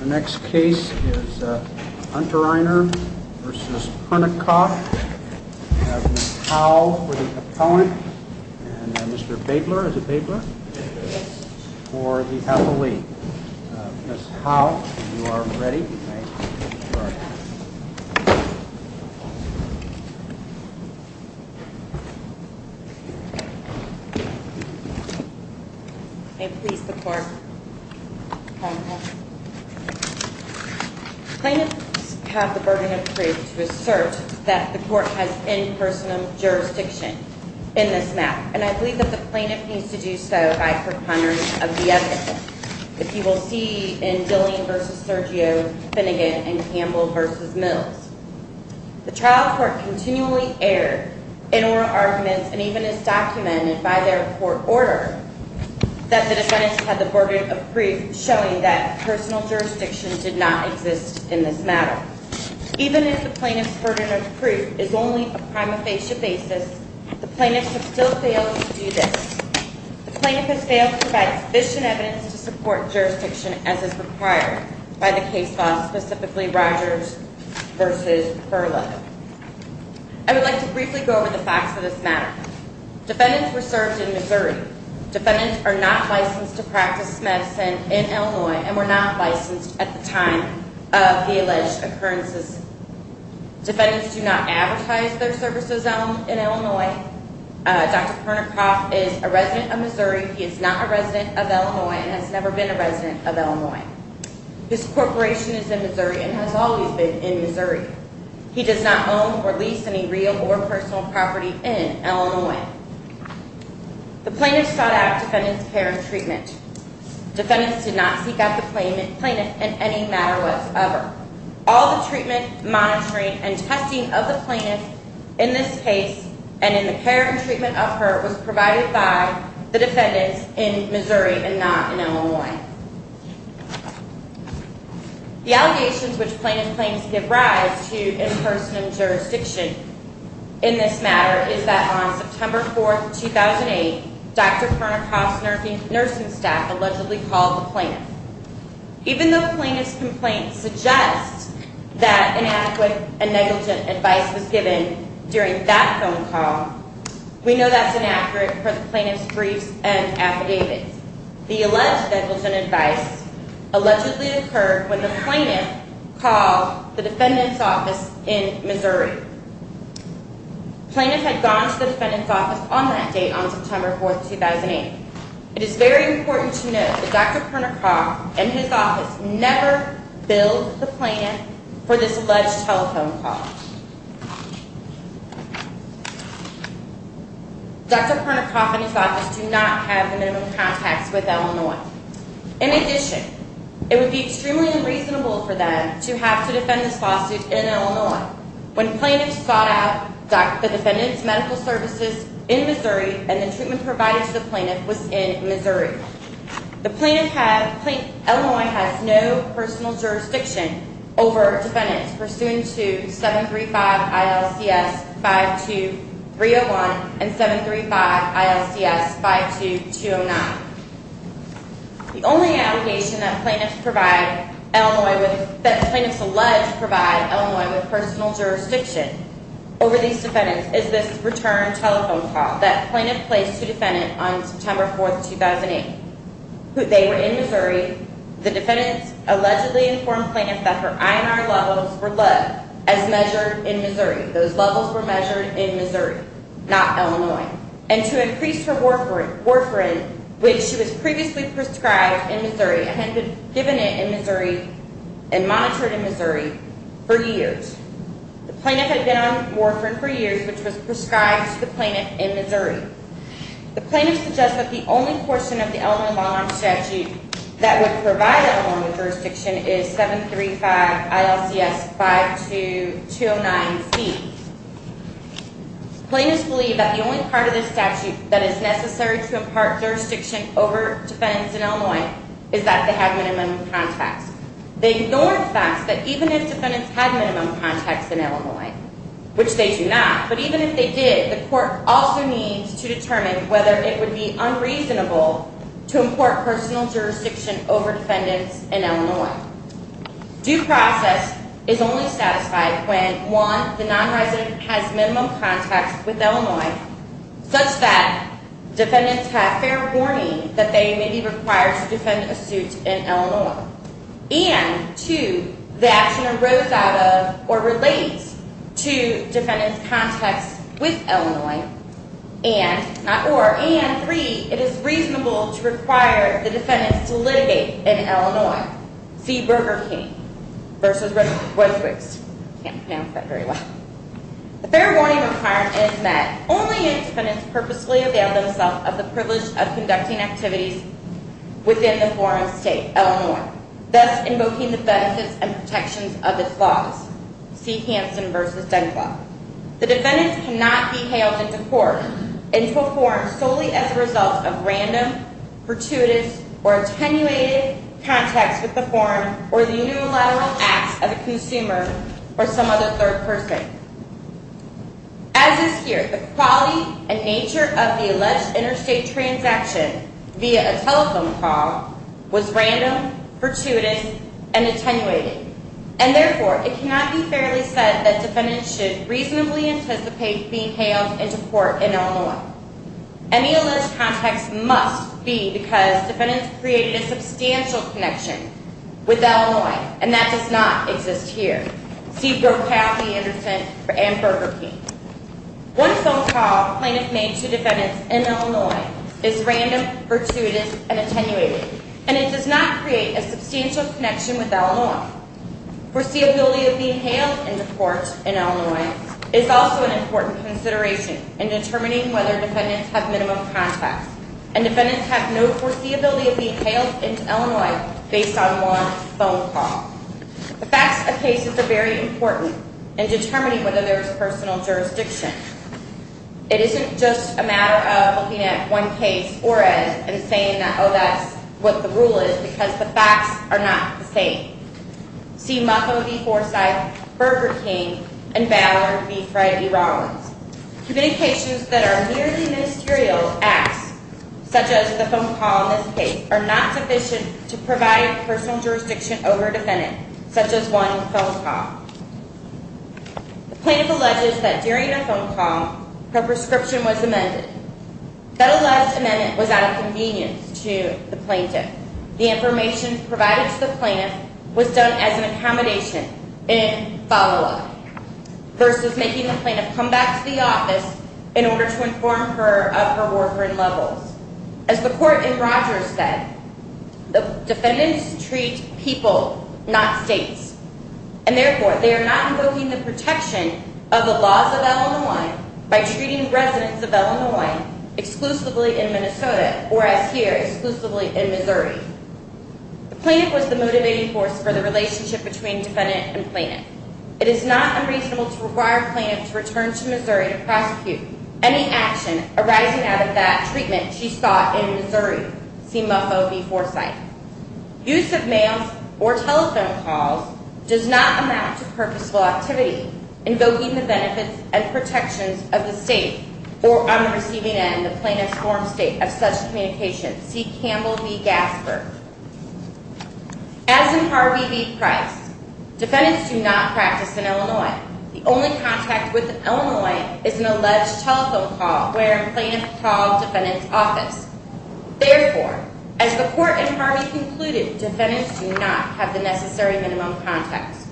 The next case is Untreiner v. Pernikof. We have Ms. Howe for the opponent, and Mr. Babler, is it Babler? Yes. For the athlete. Ms. Howe, you are ready? I am. You are. May it please the court. Plaintiffs have the burden of proof to assert that the court has in person jurisdiction in this match. And I believe that the plaintiff needs to do so by preponderance of the evidence. As you will see in Dillian v. Sergio, Finnegan, and Campbell v. Mills. The trial court continually erred in oral arguments, and even as documented by their court order, that the defendants had the burden of proof showing that personal jurisdiction did not exist in this matter. Even if the plaintiff's burden of proof is only a prima facie basis, the plaintiff has still failed to do this. The plaintiff has failed to provide sufficient evidence to support jurisdiction as is required by the case law, specifically Rogers v. Furlow. I would like to briefly go over the facts of this matter. Defendants were served in Missouri. Defendants are not licensed to practice medicine in Illinois, and were not licensed at the time of the alleged occurrences. Defendants do not advertise their services in Illinois. Dr. Pernikoff is a resident of Missouri. He is not a resident of Illinois and has never been a resident of Illinois. His corporation is in Missouri and has always been in Missouri. He does not own or lease any real or personal property in Illinois. The plaintiff sought out defendant's care and treatment. Defendants did not seek out the plaintiff in any matter whatsoever. All the treatment, monitoring, and testing of the plaintiff in this case and in the care and treatment of her was provided by the defendants in Missouri and not in Illinois. The allegations which plaintiff claims give rise to in person and jurisdiction in this matter is that on September 4th, 2008, Dr. Pernikoff's nursing staff allegedly called the plaintiff. Even though plaintiff's complaint suggests that inadequate and negligent advice was given during that phone call, we know that's inaccurate for the plaintiff's briefs and affidavits. The alleged negligent advice allegedly occurred when the plaintiff called the defendant's office in Missouri. The plaintiff had gone to the defendant's office on that date on September 4th, 2008. It is very important to note that Dr. Pernikoff and his office never billed the plaintiff for this alleged telephone call. Dr. Pernikoff and his office do not have minimum contacts with Illinois. In addition, it would be extremely unreasonable for them to have to defend this lawsuit in Illinois when plaintiffs sought out the defendant's medical services in Missouri and the treatment provided to the plaintiff was in Missouri. Illinois has no personal jurisdiction over defendants pursuant to 735-ILCS-52301 and 735-ILCS-52209. The only allegation that plaintiffs allege provide Illinois with personal jurisdiction over these defendants is this return telephone call that plaintiff placed to defendant on September 4th, 2008. They were in Missouri. The defendants allegedly informed plaintiff that her INR levels were low as measured in Missouri. Those levels were measured in Missouri, not Illinois. And to increase her warfarin, which she was previously prescribed in Missouri and had been given it in Missouri and monitored in Missouri for years. The plaintiff had been on warfarin for years, which was prescribed to the plaintiff in Missouri. The plaintiff suggests that the only portion of the Illinois law statute that would provide Illinois with jurisdiction is 735-ILCS-52209c. Plaintiffs believe that the only part of the statute that is necessary to impart jurisdiction over defendants in Illinois is that they have minimum contacts. They ignore the fact that even if defendants had minimum contacts in Illinois, which they do not, but even if they did, the court also needs to determine whether it would be unreasonable to import personal jurisdiction over defendants in Illinois. Due process is only satisfied when 1. the non-resident has minimum contacts with Illinois, such that defendants have fair warning that they may be required to defend a suit in Illinois, and 2. the action arose out of or relates to defendants' contacts with Illinois, and 3. it is reasonable to require the defendants to litigate in Illinois. Now, see Burger King v. Rosewoods. I can't pronounce that very well. The fair warning requirement is that only if defendants purposely avail themselves of the privilege of conducting activities within the foreign state, Illinois, thus invoking the benefits and protections of its laws. See Hansen v. Dunclop. The defendants cannot be hailed into court and performed solely as a result of random, fortuitous, or attenuated contacts with the foreign or the unilateral acts of a consumer or some other third person. As is here, the quality and nature of the alleged interstate transaction via a telephone call was random, fortuitous, and attenuated, and therefore, it cannot be fairly said that defendants should reasonably anticipate being hailed into court in Illinois. Any alleged contacts must be because defendants created a substantial connection with Illinois, and that does not exist here. See Brokaw v. Anderson and Burger King. One telephone call a plaintiff made to defendants in Illinois is random, fortuitous, and attenuated, and it does not create a substantial connection with Illinois. Foreseeability of being hailed into court in Illinois is also an important consideration in determining whether defendants have minimum contacts, and defendants have no foreseeability of being hailed into Illinois based on one phone call. The facts of cases are very important in determining whether there is personal jurisdiction. It isn't just a matter of looking at one case or as and saying that, oh, that's what the rule is, because the facts are not the same. See Muffo v. Forsythe, Burger King, and Ballard v. Friday-Rollins. Communications that are merely ministerial acts, such as the phone call in this case, are not sufficient to provide personal jurisdiction over a defendant, such as one phone call. The plaintiff alleges that during the phone call, her prescription was amended. That alleged amendment was out of convenience to the plaintiff. The information provided to the plaintiff was done as an accommodation in follow-up versus making the plaintiff come back to the office in order to inform her of her warfarin levels. As the court in Rogers said, defendants treat people, not states, and therefore they are not invoking the protection of the laws of Illinois by treating residents of Illinois exclusively in Minnesota or, as here, exclusively in Missouri. The plaintiff was the motivating force for the relationship between defendant and plaintiff. It is not unreasonable to require a plaintiff to return to Missouri to prosecute any action arising out of that treatment she sought in Missouri. See Muffo v. Forsythe. Use of mails or telephone calls does not amount to purposeful activity invoking the benefits and protections of the state or on the receiving end the plaintiff's form state of such communication. See Campbell v. Gasper. As in Harvey v. Price, defendants do not practice in Illinois. The only contact with Illinois is an alleged telephone call where a plaintiff called a defendant's office. Therefore, as the court in Harvey concluded, defendants do not have the necessary minimum context.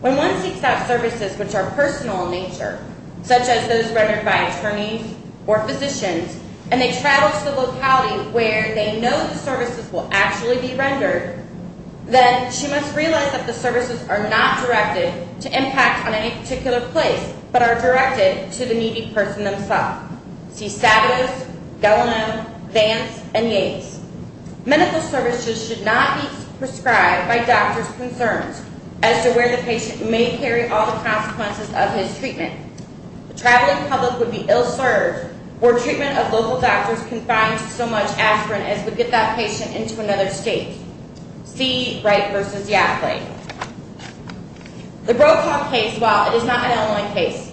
When one seeks out services which are personal in nature, such as those rendered by attorneys or physicians, and they travel to the locality where they know the services will actually be rendered, then she must realize that the services are not directed to impact on any particular place but are directed to the needy person themselves. See Sabatos, Gellinan, Vance, and Yates. Medical services should not be prescribed by doctors' concerns as to where the patient may carry all the consequences of his treatment. The traveling public would be ill-served or treatment of local doctors confined to so much aspirin as would get that patient into another state. See Wright v. Yackley. The Brokaw case, while it is not an Illinois case,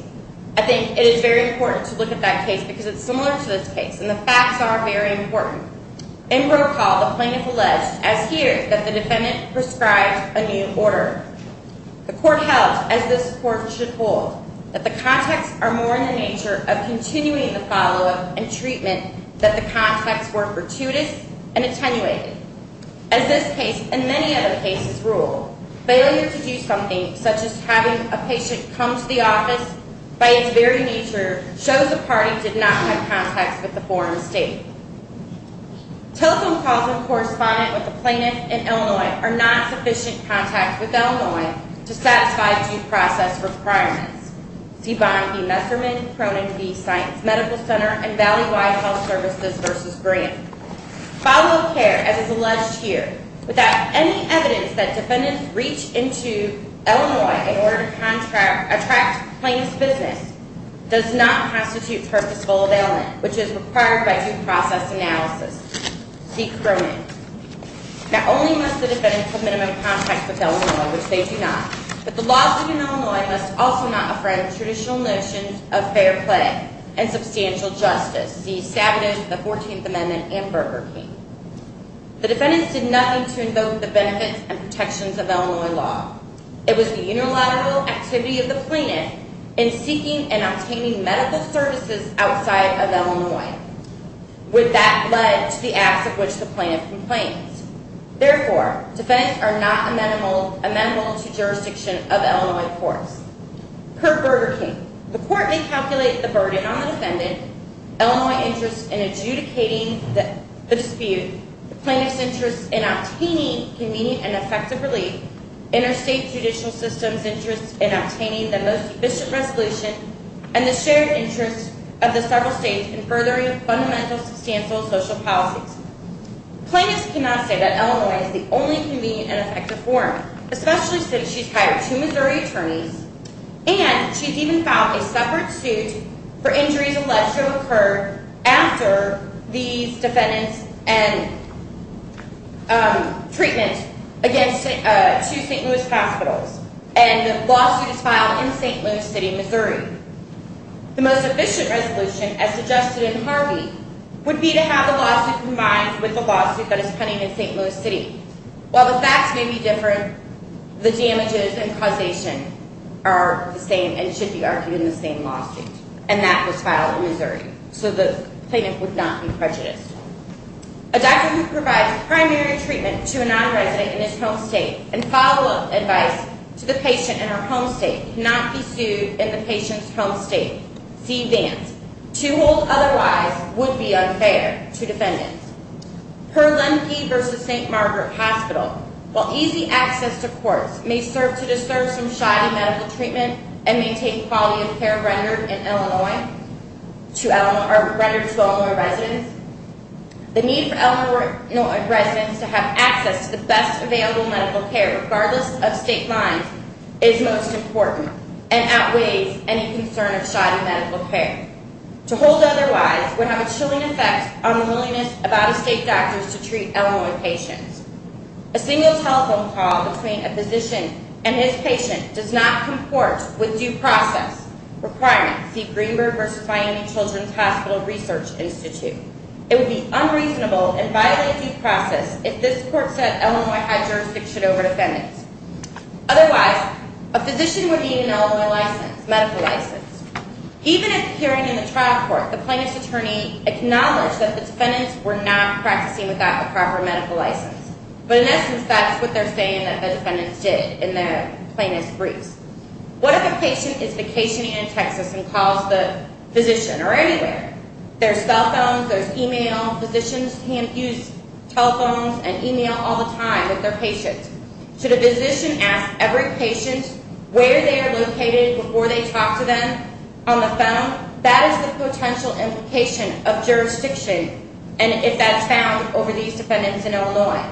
I think it is very important to look at that case because it's similar to this case and the facts are very important. In Brokaw, the plaintiff alleged, as here, that the defendant prescribed a new order. The court held, as this court should hold, that the contexts are more in the nature of continuing the follow-up and treatment that the contexts were fortuitous and attenuated. As this case and many other cases rule, failure to do something such as having a patient come to the office by its very nature shows the party did not have contacts with the foreign state. Telephone calls in correspondence with the plaintiff in Illinois are not sufficient contacts with Illinois to satisfy due process requirements. See Bond v. Messerman, Cronin v. Science Medical Center, and Valleywide Health Services v. Grant. Follow-up care, as is alleged here, without any evidence that defendants reach into Illinois in order to attract plaintiff's business, does not constitute purposeful availment, which is required by due process analysis. See Cronin. Not only must the defendant have minimum contacts with Illinois, which they do not, but the laws within Illinois must also not offend traditional notions of fair play and substantial justice. See Stabenow v. The Fourteenth Amendment and Burger King. The defendants did nothing to invoke the benefits and protections of Illinois law. It was the unilateral activity of the plaintiff in seeking and obtaining medical services outside of Illinois. That led to the acts of which the plaintiff complains. Therefore, defendants are not amenable to jurisdiction of Illinois courts. Per Burger King, the court may calculate the burden on the defendant. Illinois' interest in adjudicating the dispute, the plaintiff's interest in obtaining convenient and effective relief, interstate judicial system's interest in obtaining the most sufficient resolution, and the shared interest of the several states in furthering fundamental substantial social policies. Plaintiffs cannot say that Illinois is the only convenient and effective forum, especially since she's hired two Missouri attorneys, and she's even filed a separate suit for injuries alleged to have occurred after these defendants and treatment against two St. Louis hospitals, and the lawsuit is filed in St. Louis City, Missouri. The most efficient resolution, as suggested in Harvey, would be to have the lawsuit combined with the lawsuit that is pending in St. Louis City. While the facts may be different, the damages and causation are the same and should be argued in the same lawsuit, and that was filed in Missouri. So the plaintiff would not be prejudiced. A doctor who provides primary treatment to a non-resident in his home state and follow-up advice to the patient in her home state cannot be sued in the patient's home state. See Vance. To hold otherwise would be unfair to defendants. Per Lemke v. St. Margaret Hospital, while easy access to courts may serve to disturb some shoddy medical treatment and maintain quality of care rendered to Illinois residents, the need for Illinois residents to have access to the best available medical care regardless of state lines is most important and outweighs any concern of shoddy medical care. To hold otherwise would have a chilling effect on the willingness of out-of-state doctors to treat Illinois patients. A single telephone call between a physician and his patient does not comport with due process requirements. See Greenberg v. Miami Children's Hospital Research Institute. It would be unreasonable and violate due process if this court said Illinois had jurisdiction over defendants. Otherwise, a physician would need an Illinois medical license. Even at the hearing in the trial court, the plaintiff's attorney acknowledged that the defendants were not practicing without a proper medical license. But in essence, that's what they're saying that the defendants did in the plaintiff's briefs. What if a patient is vacationing in Texas and calls the physician or anywhere? There's cell phones, there's email. Physicians can't use telephones and email all the time with their patients. Should a physician ask every patient where they are located before they talk to them on the phone? That is the potential implication of jurisdiction and if that's found over these defendants in Illinois.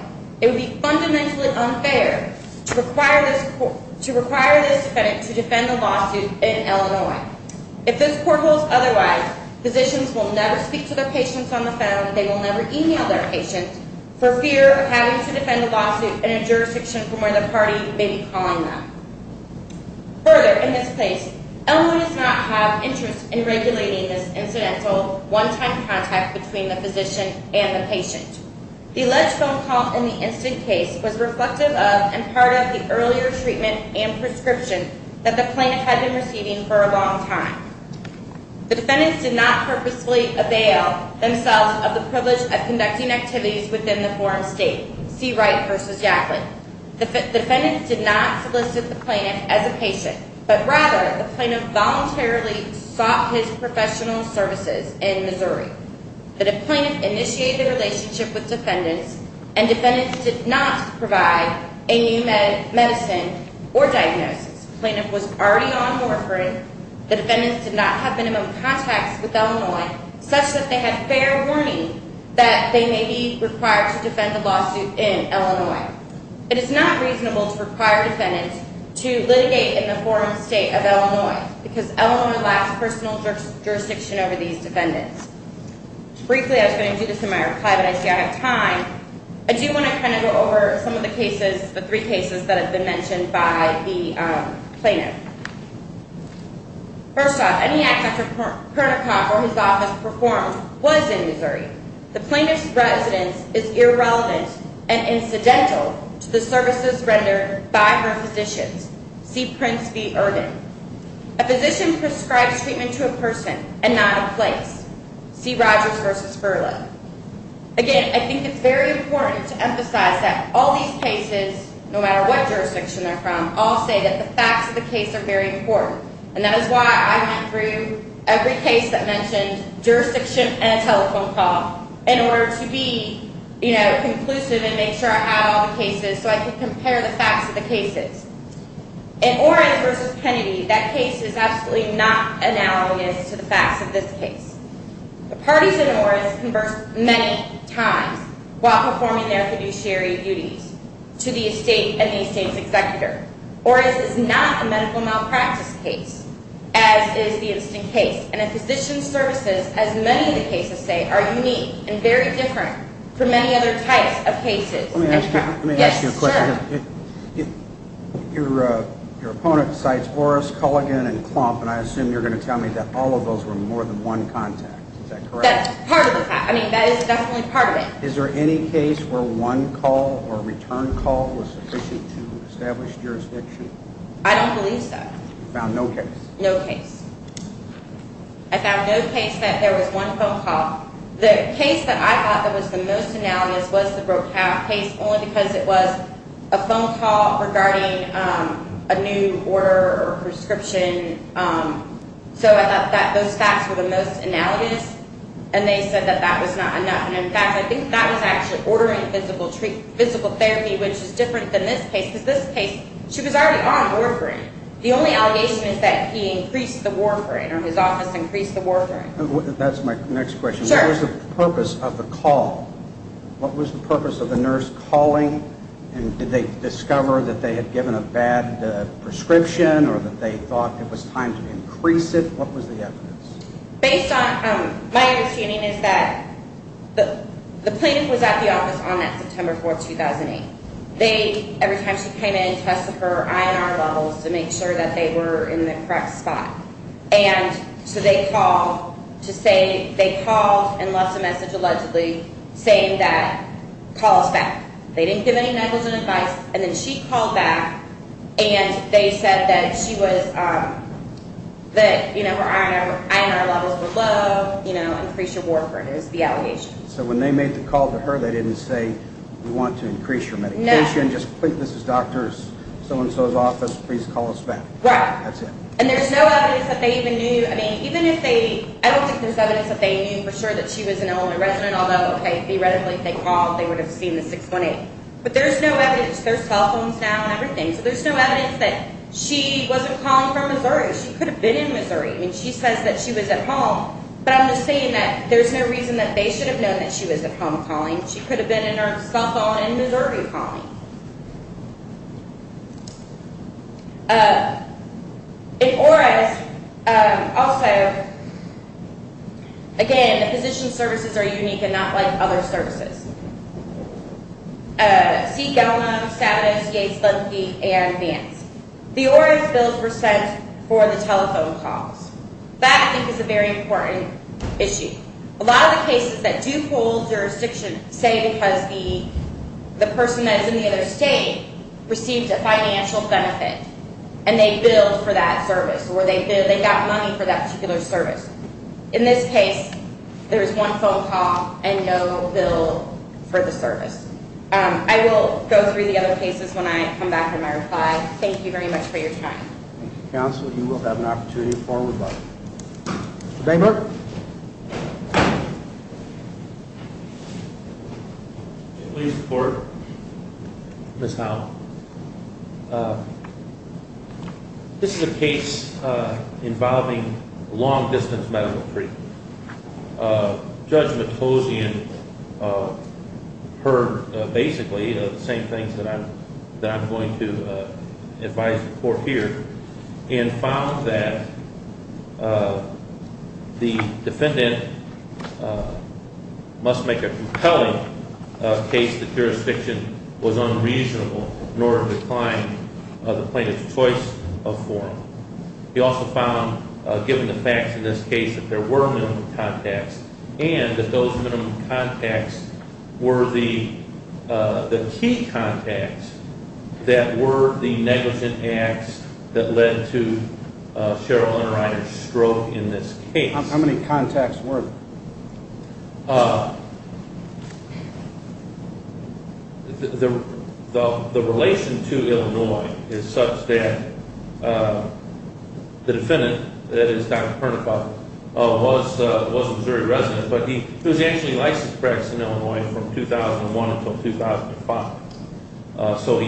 It would be fundamentally unfair to require this defendant to defend a lawsuit in Illinois. If this court holds otherwise, physicians will never speak to their patients on the phone, they will never email their patients, for fear of having to defend a lawsuit in a jurisdiction from where the party may be calling them. Further, in this case, Illinois does not have interest in regulating this incidental one-time contact between the physician and the patient. The alleged phone call in the instant case was reflective of and part of the earlier treatment and prescription that the plaintiff had been receiving for a long time. The defendants did not purposely avail themselves of the privilege of conducting activities within the forum state, Seawright v. Yackley. The defendants did not solicit the plaintiff as a patient, but rather the plaintiff voluntarily sought his professional services in Missouri. The plaintiff initiated a relationship with defendants and defendants did not provide a new medicine or diagnosis. The plaintiff was already on morphine. The defendants did not have minimum contacts with Illinois, such that they had fair warning that they may be required to defend a lawsuit in Illinois. It is not reasonable to require defendants to litigate in the forum state of Illinois because Illinois lacks personal jurisdiction over these defendants. Briefly, I was going to do this in my archive, but I see I have time. I do want to kind of go over some of the cases, the three cases that have been mentioned by the plaintiff. First off, any act Dr. Kernikoff or his office performed was in Missouri. The plaintiff's residence is irrelevant and incidental to the services rendered by her physicians. C. Prince v. Ervin. A physician prescribes treatment to a person and not a place. C. Rogers v. Berla. Again, I think it's very important to emphasize that all these cases, no matter what jurisdiction they're from, all say that the facts of the case are very important, and that is why I went through every case that mentioned jurisdiction and a telephone call in order to be, you know, conclusive and make sure I had all the cases so I could compare the facts of the cases. In Orens v. Kennedy, that case is absolutely not analogous to the facts of this case. The parties in Orens conversed many times while performing their fiduciary duties to the estate and the estate's executor. Orens is not a medical malpractice case, as is the instant case, and the physician's services, as many of the cases say, are unique and very different from many other types of cases. Let me ask you a question. Yes, sure. Your opponent cites Orens, Culligan, and Klomp, and I assume you're going to tell me that all of those were more than one contact. Is that correct? That's part of the fact. I mean, that is definitely part of it. Is there any case where one call or return call was sufficient to establish jurisdiction? I don't believe so. You found no case? No case. I found no case that there was one phone call. The case that I thought that was the most analogous was the Brokaw case only because it was a phone call regarding a new order or prescription. So I thought that those facts were the most analogous, and they said that that was not enough. And, in fact, I think that was actually ordering physical therapy, which is different than this case because this case, she was already on warfarin. The only allegation is that he increased the warfarin or his office increased the warfarin. That's my next question. Sure. What was the purpose of the call? What was the purpose of the nurse calling? And did they discover that they had given a bad prescription or that they thought it was time to increase it? What was the evidence? Based on my understanding is that the plaintiff was at the office on that September 4, 2008. Every time she came in, they tested her INR levels to make sure that they were in the correct spot. So they called and left a message allegedly saying that, call us back. They didn't give any negligent advice, and then she called back, and they said that her INR levels were low, increase your warfarin is the allegation. So when they made the call to her, they didn't say, we want to increase your medication. No. Just click Mrs. Doctors, so-and-so's office, please call us back. Right. That's it. And there's no evidence that they even knew, I mean, even if they, I don't think there's evidence that they knew for sure that she was an Illinois resident, although, okay, theoretically, if they called, they would have seen the 618. But there's no evidence. There's cell phones now and everything. So there's no evidence that she wasn't calling from Missouri. She could have been in Missouri. I mean, she says that she was at home, but I'm just saying that there's no reason that they should have known that she was at home calling. She could have been in her cell phone in Missouri calling. In ORAS, also, again, the physician's services are unique and not like other services. C. Gellman, Savage, Yates, Linkey, and Vance. The ORAS bills were sent for the telephone calls. That, I think, is a very important issue. A lot of the cases that do hold jurisdiction, say because the person that's in the other state received a financial benefit and they billed for that service or they got money for that particular service. In this case, there was one phone call and no bill for the service. I will go through the other cases when I come back with my reply. Thank you very much for your time. Thank you, Counsel. You will have an opportunity to forward back. Mr. Dahmer? Please report, Ms. Howell. This is a case involving long-distance medical treatment. Judge Matosian heard, basically, the same things that I'm going to advise the court here and found that the defendant must make a compelling case that jurisdiction was unreasonable in order to decline the plaintiff's choice of form. He also found, given the facts in this case, that there were minimum contacts and that those minimum contacts were the key contacts that were the negligent acts that led to Cheryl Unreiner's stroke in this case. How many contacts were there? The relation to Illinois is such that the defendant, that is, Dr. Pernickoff, was a Missouri resident, but he was actually licensed to practice in Illinois from 2001 until 2005. So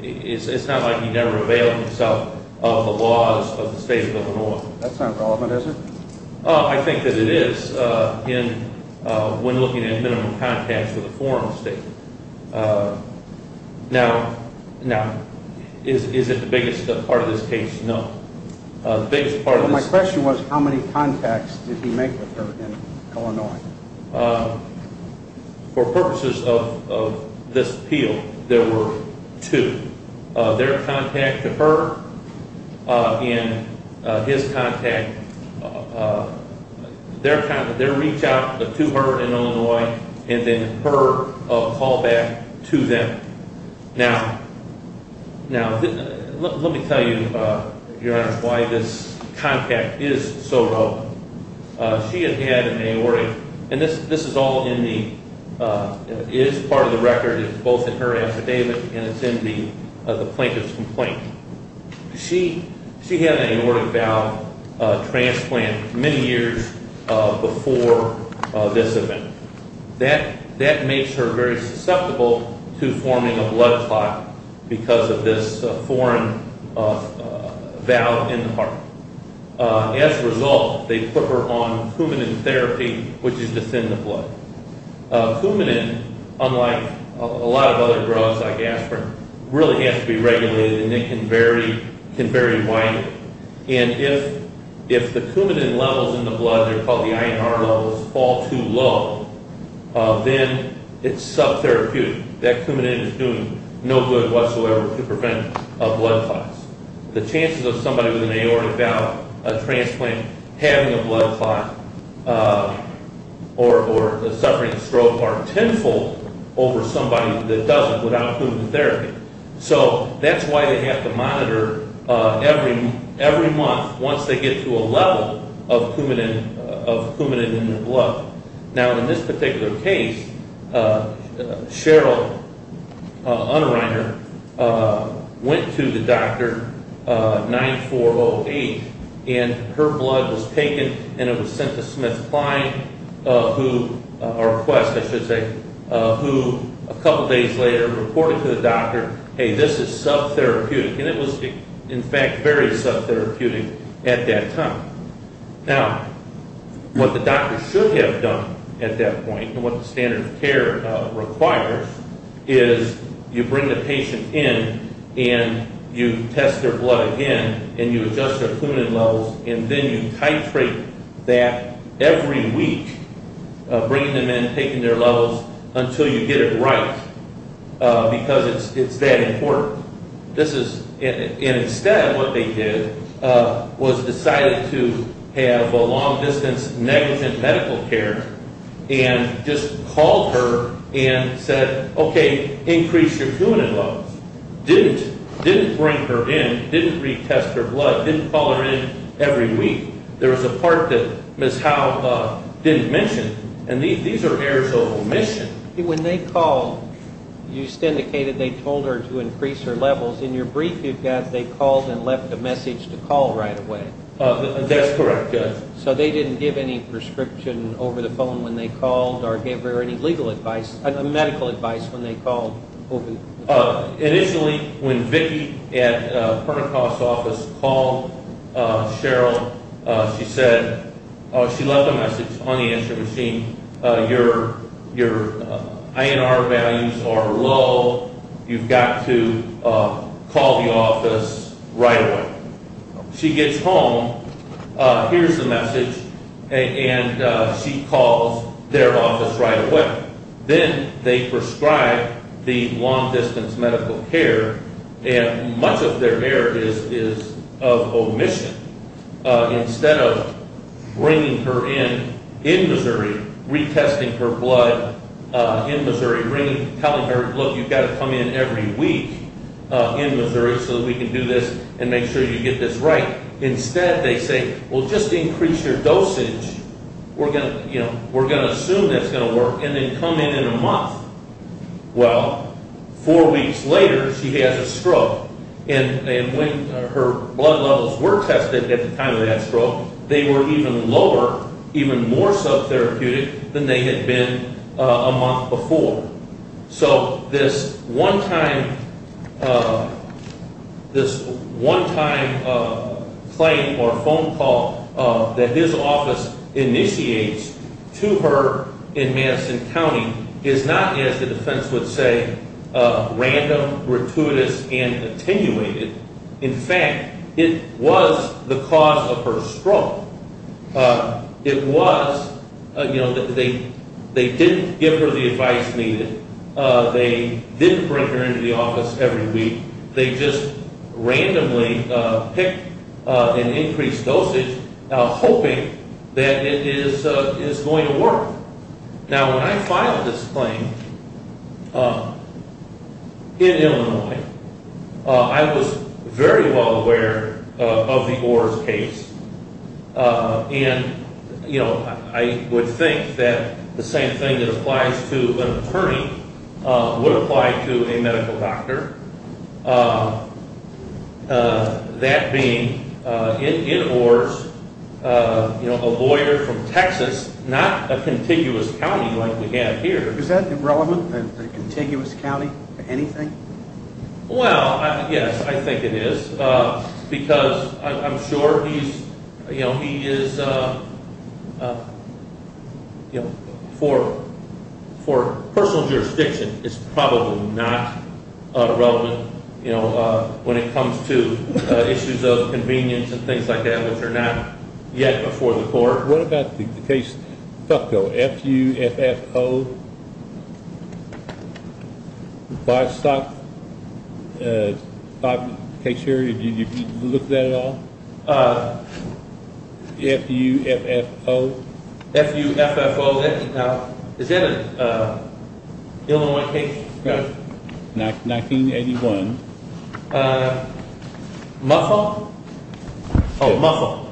it's not like he never availed himself of the laws of the state of Illinois. That's not relevant, is it? I think that it is when looking at minimum contacts with a foreign state. Now, is it the biggest part of this case? No. My question was, how many contacts did he make with her in Illinois? For purposes of this appeal, there were two. Their contact to her and his contact, their reach out to her in Illinois and then her call back to them. Now, let me tell you, Your Honor, why this contact is so low. She had had an aortic, and this is all in the, it is part of the record, it's both in her affidavit and it's in the plaintiff's complaint. She had an aortic valve transplant many years before this event. That makes her very susceptible to forming a blood clot because of this foreign valve in the heart. As a result, they put her on Coumadin therapy, which is to thin the blood. Coumadin, unlike a lot of other drugs like aspirin, really has to be regulated, and it can vary widely, and if the Coumadin levels in the blood, they're called the INR levels, fall too low, then it's sub-therapeutic. That Coumadin is doing no good whatsoever to prevent a blood clot. The chances of somebody with an aortic valve transplant having a blood clot or suffering a stroke are tenfold over somebody that doesn't without Coumadin therapy. So that's why they have to monitor every month once they get to a level of Coumadin in their blood. Now, in this particular case, Cheryl Unreiner went to the doctor 9408, and her blood was taken and it was sent to Smith-Klein, or Quest, I should say, who a couple days later reported to the doctor, hey, this is sub-therapeutic, and it was in fact very sub-therapeutic at that time. Now, what the doctor should have done at that point, and what the standard of care requires, is you bring the patient in and you test their blood again, and you adjust their Coumadin levels, and then you titrate that every week, bringing them in, taking their levels, until you get it right, because it's that important. Instead, what they did was decided to have a long-distance negligent medical care and just called her and said, okay, increase your Coumadin levels. Didn't bring her in, didn't retest her blood, didn't call her in every week. There was a part that Ms. Howe didn't mention, and these are errors of omission. When they called, you just indicated they told her to increase her levels. In your brief, you've got they called and left a message to call right away. That's correct, yes. So they didn't give any prescription over the phone when they called or give her any legal advice, medical advice when they called? Initially, when Vicki at Pernikoff's office called Cheryl, she said, she left a message on the answering machine, your INR values are low. You've got to call the office right away. She gets home, hears the message, and she calls their office right away. Then they prescribe the long-distance medical care, and much of their error is of omission. Instead of bringing her in, in Missouri, retesting her blood in Missouri, telling her, look, you've got to come in every week in Missouri so that we can do this and make sure you get this right. Instead, they say, well, just increase your dosage. We're going to assume that's going to work and then come in in a month. Well, four weeks later, she has a stroke. When her blood levels were tested at the time of that stroke, they were even lower, even more sub-therapeutic than they had been a month before. So this one-time claim or phone call that his office initiates to her in Madison County is not, as the defense would say, random, gratuitous, and attenuated. In fact, it was the cause of her stroke. It was, you know, they didn't give her the advice needed. They didn't bring her into the office every week. They just randomly picked an increased dosage, hoping that it is going to work. Now, when I filed this claim in Illinois, I was very well aware of the OARS case. And, you know, I would think that the same thing that applies to an attorney would apply to a medical doctor. That being, in OARS, you know, a lawyer from Texas, not a contiguous county like we have here. Is that irrelevant, a contiguous county to anything? Well, yes, I think it is. Because I'm sure he's, you know, he is, you know, for personal jurisdiction, it's probably not relevant, you know, when it comes to issues of convenience and things like that, which are not yet before the court. What about the case, FUFFO, F-U-F-F-O? The livestock case here, did you look at it at all? F-U-F-F-O? F-U-F-F-O. Is that an Illinois case? 1981. MUFFLE? Oh, MUFFLE.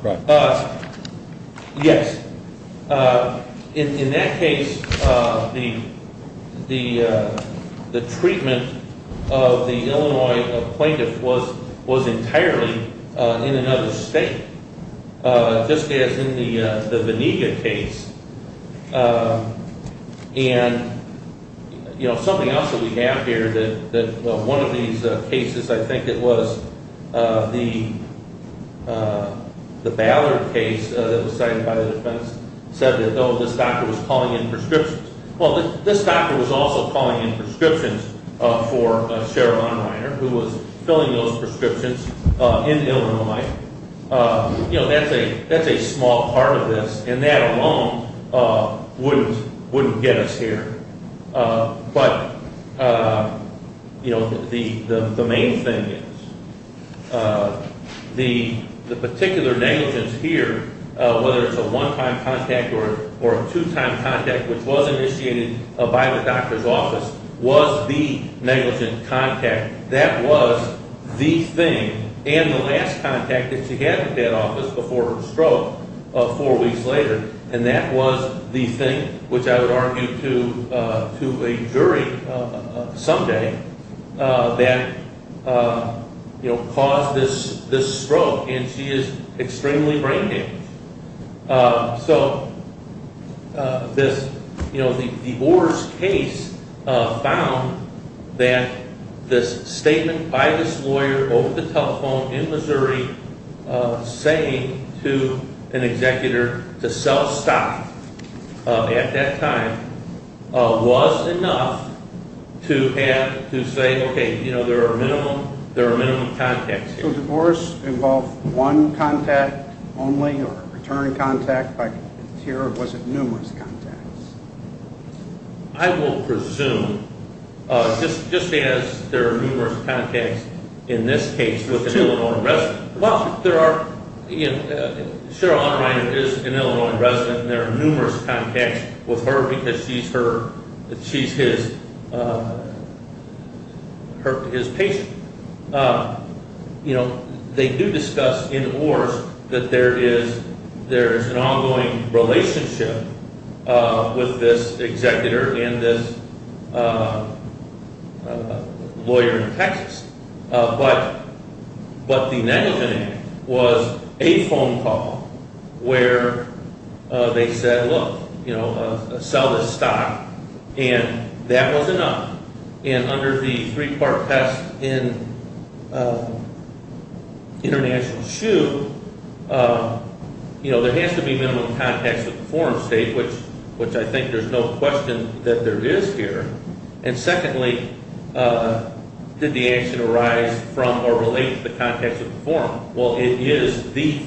Yes. In that case, the treatment of the Illinois plaintiff was entirely in another state. Just as in the Venega case. And, you know, something else that we have here, that one of these cases, I think it was, the Ballard case that was cited by the defense, said that, oh, this doctor was calling in prescriptions. Well, this doctor was also calling in prescriptions for Cheryl Einreiner, who was filling those prescriptions in Illinois. You know, that's a small part of this, and that alone wouldn't get us here. But, you know, the main thing is, the particular negligence here, whether it's a one-time contact or a two-time contact, which was initiated by the doctor's office, was the negligent contact. That was the thing, and the last contact that she had at that office before her stroke, four weeks later. And that was the thing, which I would argue to a jury someday, that caused this stroke. And she is extremely brain damaged. So, this, you know, the divorce case found that this statement by this lawyer over the telephone in Missouri saying to an executor to sell stock at that time was enough to have, to say, okay, you know, there are minimum contacts here. Did the actual divorce involve one contact only or a return contact? Was it numerous contacts? I will presume, just as there are numerous contacts in this case with an Illinois resident. Well, there are, you know, Cheryl Einreiner is an Illinois resident, and there are numerous contacts with her because she's her, she's his patient. You know, they do discuss in Orr's that there is an ongoing relationship with this executor and this lawyer in Texas. But the negligent act was a phone call where they said, look, you know, sell this stock, and that was enough. And under the three-part test in International Shoe, you know, there has to be minimum contacts with the foreign state, which I think there's no question that there is here. And secondly, did the action arise from or relate to the context of the forum? Well, it is the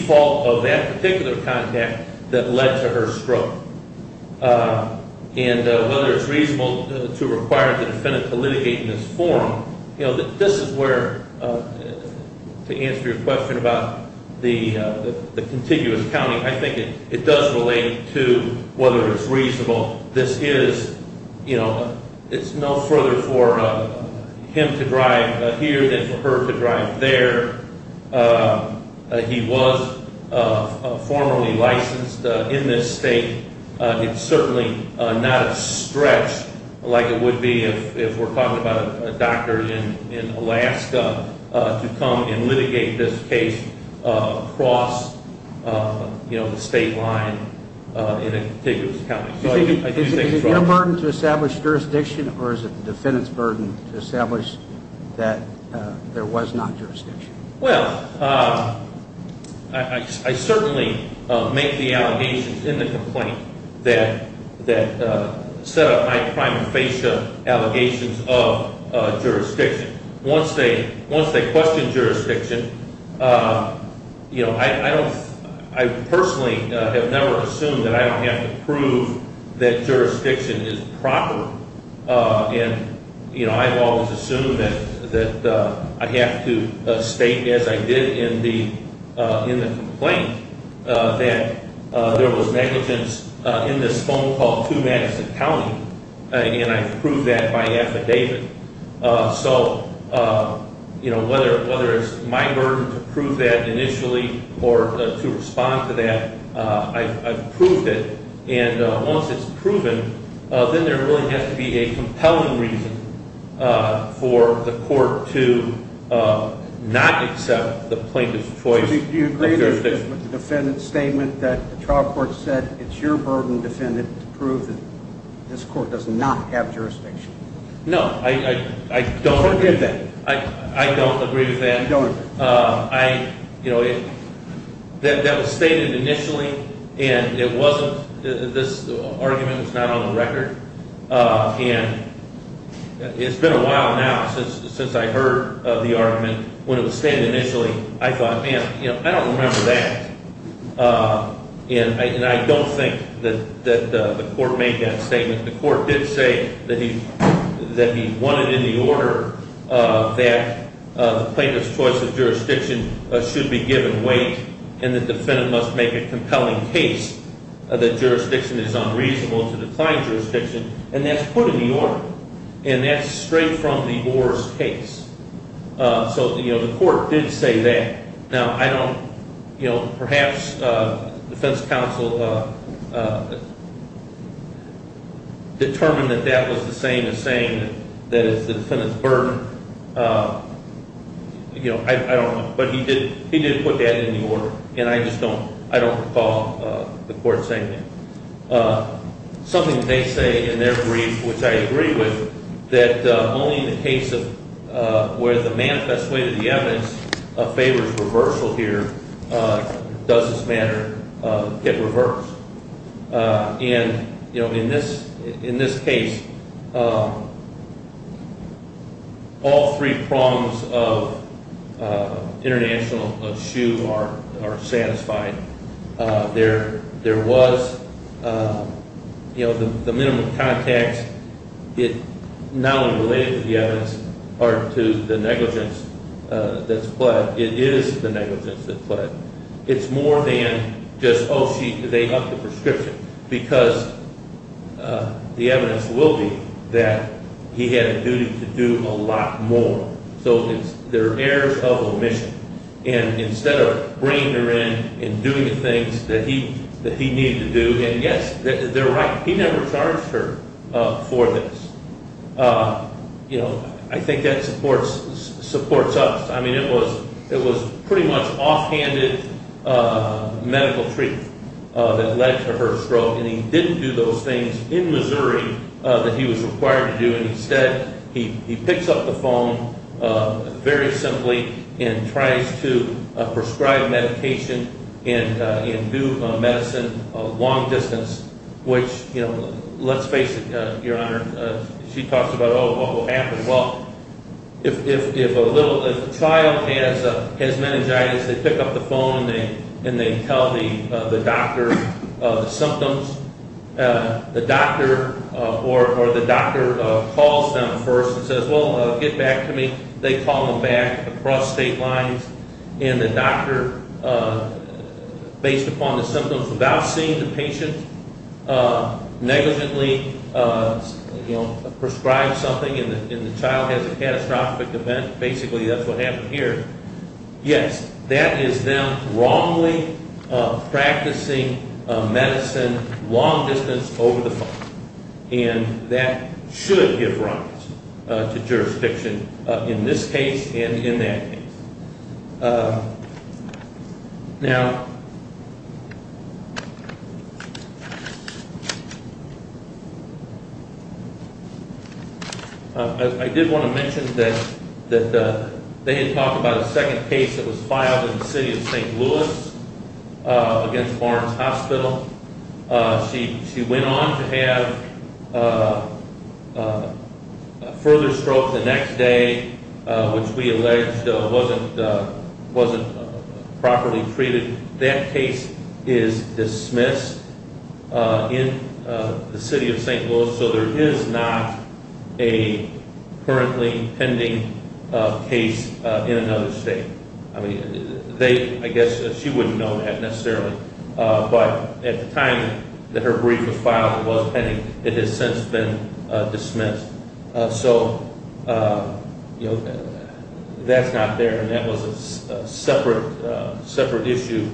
fault of that particular contact that led to her stroke. And whether it's reasonable to require the defendant to litigate in this forum, you know, this is where, to answer your question about the contiguous county, I think it does relate to whether it's reasonable. This is, you know, it's no further for him to drive here than for her to drive there. He was formerly licensed in this state. It's certainly not a stretch like it would be if we're talking about a doctor in Alaska to come and litigate this case across, you know, the state line in a contiguous county. Is it your burden to establish jurisdiction, or is it the defendant's burden to establish that there was not jurisdiction? Well, I certainly make the allegations in the complaint that set up my prima facie allegations of jurisdiction. Once they question jurisdiction, you know, I personally have never assumed that I don't have to prove that jurisdiction is proper. And, you know, I've always assumed that I have to state, as I did in the complaint, that there was negligence in this phone call to Madison County, and I proved that by affidavit. So, you know, whether it's my burden to prove that initially or to respond to that, I've proved it. And once it's proven, then there really has to be a compelling reason for the court to not accept the plaintiff's choice of jurisdiction. Do you agree with the defendant's statement that the trial court said it's your burden, defendant, to prove that this court does not have jurisdiction? No, I don't. What did they? I don't agree with that. You don't agree? I, you know, that was stated initially, and it wasn't this argument that's not on the record. And it's been a while now since I heard the argument. When it was stated initially, I thought, man, you know, I don't remember that. And I don't think that the court made that statement. The court did say that he wanted in the order that the plaintiff's choice of jurisdiction should be given weight and the defendant must make a compelling case that jurisdiction is unreasonable to decline jurisdiction, and that's put in the order, and that's straight from the Orr's case. So, you know, the court did say that. Now, I don't, you know, perhaps defense counsel determined that that was the same as saying that it's the defendant's burden. You know, I don't know. But he did put that in the order, and I just don't recall the court saying that. Something they say in their brief, which I agree with, that only in the case of where the manifest way to the evidence favors reversal here does this matter get reversed. And, you know, in this case, all three prongs of international shoe are satisfied. There was, you know, the minimum context, not only related to the evidence or to the negligence that's pled, it is the negligence that's pled. It's more than just, oh, they upped the prescription, because the evidence will be that he had a duty to do a lot more. So there are errors of omission. And instead of bringing her in and doing the things that he needed to do, and, yes, they're right. He never charged her for this. You know, I think that supports us. I mean, it was pretty much offhanded medical treatment that led to her stroke, and he didn't do those things in Missouri that he was required to do. And instead, he picks up the phone very simply and tries to prescribe medication and do medicine long distance, which, you know, let's face it, Your Honor, she talks about, oh, what will happen? Well, if a child has meningitis, they pick up the phone and they tell the doctor the symptoms. The doctor or the doctor calls them first and says, well, get back to me. They call them back across state lines, and the doctor, based upon the symptoms, without seeing the patient, negligently, you know, prescribes something, and the child has a catastrophic event. Basically, that's what happened here. Yes, that is them wrongly practicing medicine long distance over the phone, and that should give rise to jurisdiction in this case and in that case. Now, I did want to mention that they had talked about a second case that was filed in the city of St. Louis against Barnes Hospital. She went on to have a further stroke the next day, which we allege wasn't properly treated. That case is dismissed in the city of St. Louis, so there is not a currently pending case in another state. I guess she wouldn't know that necessarily, but at the time that her brief was filed, it was pending. It has since been dismissed. So that's not there, and that was a separate issue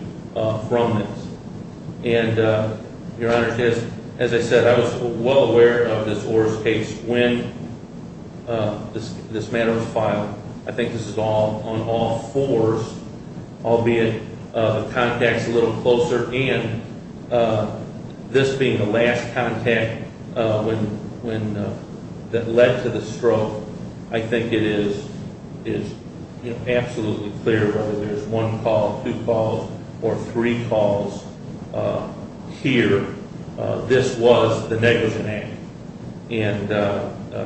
from this. And, Your Honor, as I said, I was well aware of this Orr's case when this matter was filed. I think this is on all fours, albeit contacts a little closer, and this being the last contact that led to the stroke, I think it is absolutely clear whether there's one call, two calls, or three calls here. This was the negligent act, and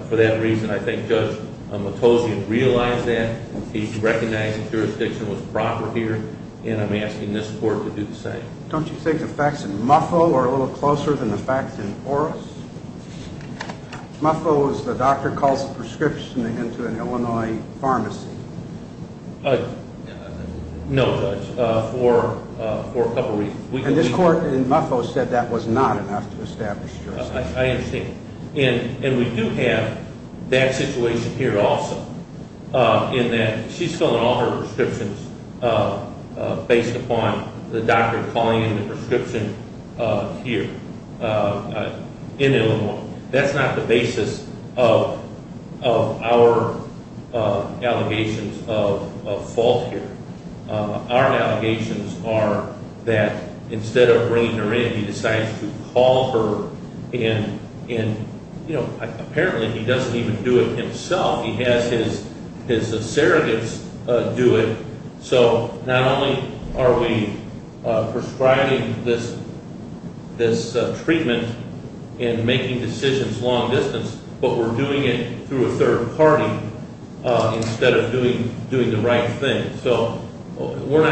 for that reason, I think Judge Matossian realized that. He recognized that jurisdiction was proper here, and I'm asking this Court to do the same. Don't you think the facts in Muffo are a little closer than the facts in Orr's? Muffo was the doctor who calls the prescription into an Illinois pharmacy. No, Judge, for a couple of reasons. And this Court in Muffo said that was not enough to establish jurisdiction. I understand. And we do have that situation here also, in that she's filling all her prescriptions based upon the doctor calling in the prescription here in Illinois. That's not the basis of our allegations of fault here. Our allegations are that instead of bringing her in, he decides to call her in. Apparently, he doesn't even do it himself. He has his surrogates do it. So not only are we prescribing this treatment and making decisions long distance, but we're doing it through a third party instead of doing the right thing. So we're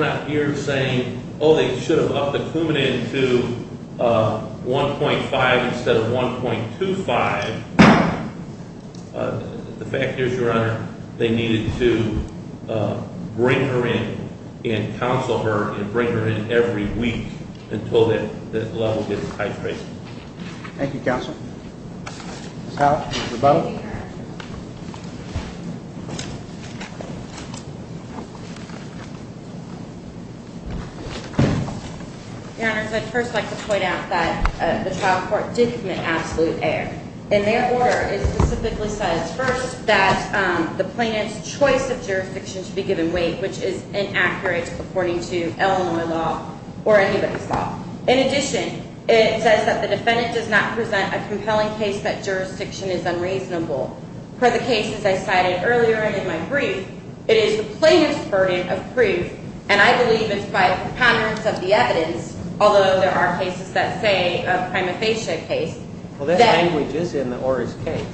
not here saying, oh, they should have upped the Coumadin to 1.5 instead of 1.25. The fact is, Your Honor, they needed to bring her in and counsel her and bring her in every week until that level gets titrated. Thank you, Counsel. Ms. Howell? Mr. Bowman? Your Honor, I'd first like to point out that the trial court did commit absolute error. And their order specifically says, first, that the plaintiff's choice of jurisdiction should be given weight, which is inaccurate according to Illinois law or anybody's law. In addition, it says that the defendant does not present a compelling case that jurisdiction is unreasonable. For the cases I cited earlier and in my brief, it is the plaintiff's burden of proof, and I believe it's by preponderance of the evidence, although there are cases that say a prima facie case. Well, that language is in the Orr's case.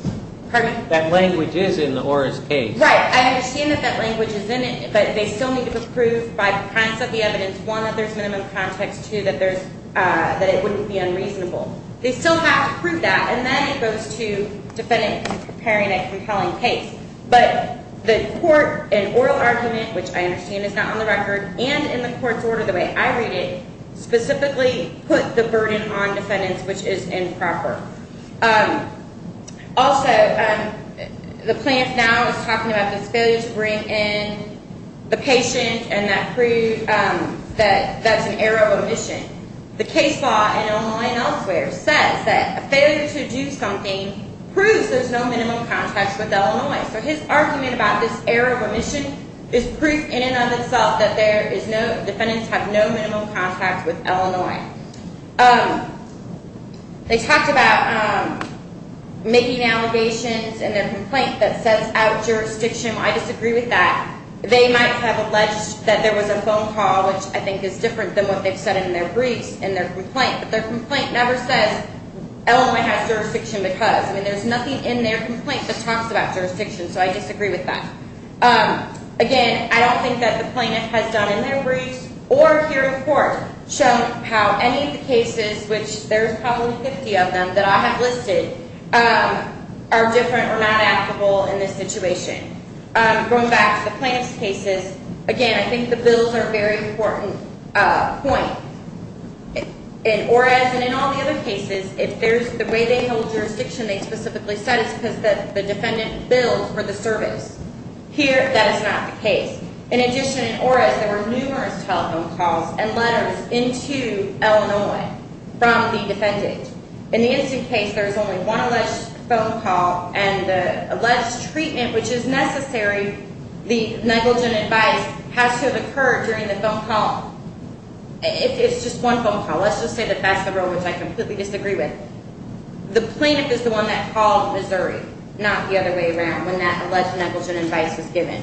Pardon me? That language is in the Orr's case. Right. I understand that that language is in it, but they still need to prove by preponderance of the evidence, one, that there's minimum context, two, that it wouldn't be unreasonable. They still have to prove that, and then it goes to defendants preparing a compelling case. But the court, in oral argument, which I understand is not on the record, and in the court's order the way I read it, specifically put the burden on defendants, which is improper. Also, the plaintiff now is talking about this failure to bring in the patient and that's an error of omission. The case law in Illinois and elsewhere says that a failure to do something proves there's no minimum context with Illinois. So his argument about this error of omission is proof in and of itself that defendants have no minimum context with Illinois. Okay. They talked about making allegations in their complaint that sets out jurisdiction. I disagree with that. They might have alleged that there was a phone call, which I think is different than what they've said in their briefs in their complaint, but their complaint never says Illinois has jurisdiction because. I mean, there's nothing in their complaint that talks about jurisdiction, so I disagree with that. Again, I don't think that the plaintiff has done in their briefs or here in court shown how any of the cases, which there's probably 50 of them that I have listed, are different or not applicable in this situation. Going back to the plaintiff's cases, again, I think the bills are a very important point. In Orez and in all the other cases, if there's the way they hold jurisdiction, they specifically said it's because the defendant billed for the service. Here, that is not the case. In addition, in Orez, there were numerous telephone calls and letters into Illinois from the defendant. In the instant case, there's only one alleged phone call, and the alleged treatment, which is necessary, the negligent advice has to have occurred during the phone call. It's just one phone call. Let's just say that that's the bill, which I completely disagree with. The plaintiff is the one that called Missouri, not the other way around, when that alleged negligent advice was given.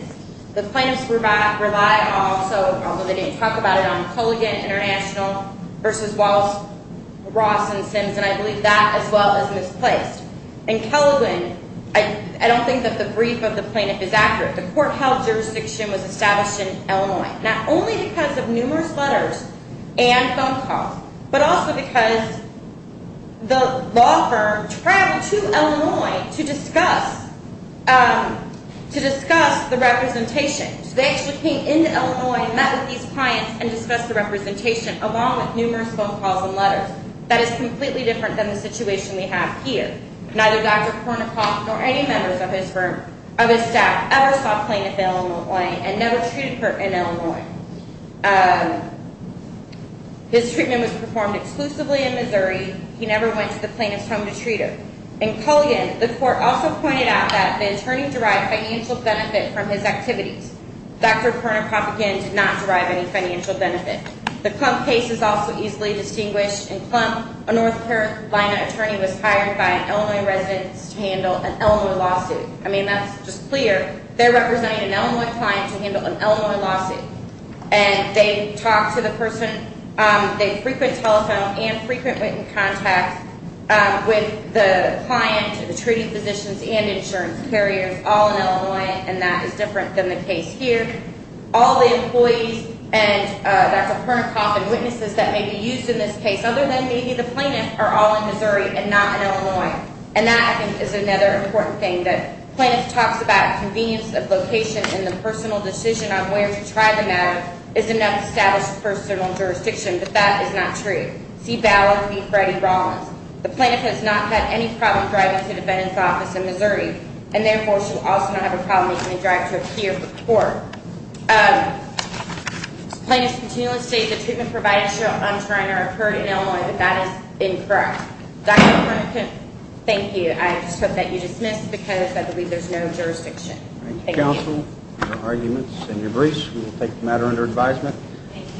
The plaintiffs rely also, although they didn't talk about it, on Culligan International versus Ross and Sims, and I believe that as well is misplaced. In Kellegren, I don't think that the brief of the plaintiff is accurate. The court held jurisdiction was established in Illinois, not only because of numerous letters and phone calls, but also because the law firm traveled to Illinois to discuss the representation. So they actually came into Illinois and met with these clients and discussed the representation, along with numerous phone calls and letters. That is completely different than the situation we have here. Neither Dr. Kornikoff nor any members of his staff ever saw plaintiff in Illinois and never treated her in Illinois. His treatment was performed exclusively in Missouri. He never went to the plaintiff's home to treat her. In Culligan, the court also pointed out that the attorney derived financial benefit from his activities. Dr. Kornikoff, again, did not derive any financial benefit. The Klump case is also easily distinguished. In Klump, a North Carolina attorney was hired by an Illinois resident to handle an Illinois lawsuit. I mean, that's just clear. They're representing an Illinois client to handle an Illinois lawsuit. And they talked to the person. They frequent telephone and frequent written contacts with the client, the treating physicians, and insurance carriers, all in Illinois, and that is different than the case here. All the employees and Dr. Kornikoff and witnesses that may be used in this case, other than maybe the plaintiff, are all in Missouri and not in Illinois. And that, I think, is another important thing, that plaintiff talks about convenience of location and the personal decision on where to try the matter is enough to establish personal jurisdiction. But that is not true. See Ballard v. Freddie Rawlins. The plaintiff has not had any problem driving to the defendant's office in Missouri, and therefore she will also not have a problem when they drive to appear before her. Plaintiffs continually state that treatment providers show untrained or occurred in Illinois, but that is incorrect. Dr. Kornikoff, thank you. I just hope that you dismiss it because I believe there's no jurisdiction. Thank you. Thank you, counsel, for your arguments and your briefs. We will take the matter under advisement. Thank you.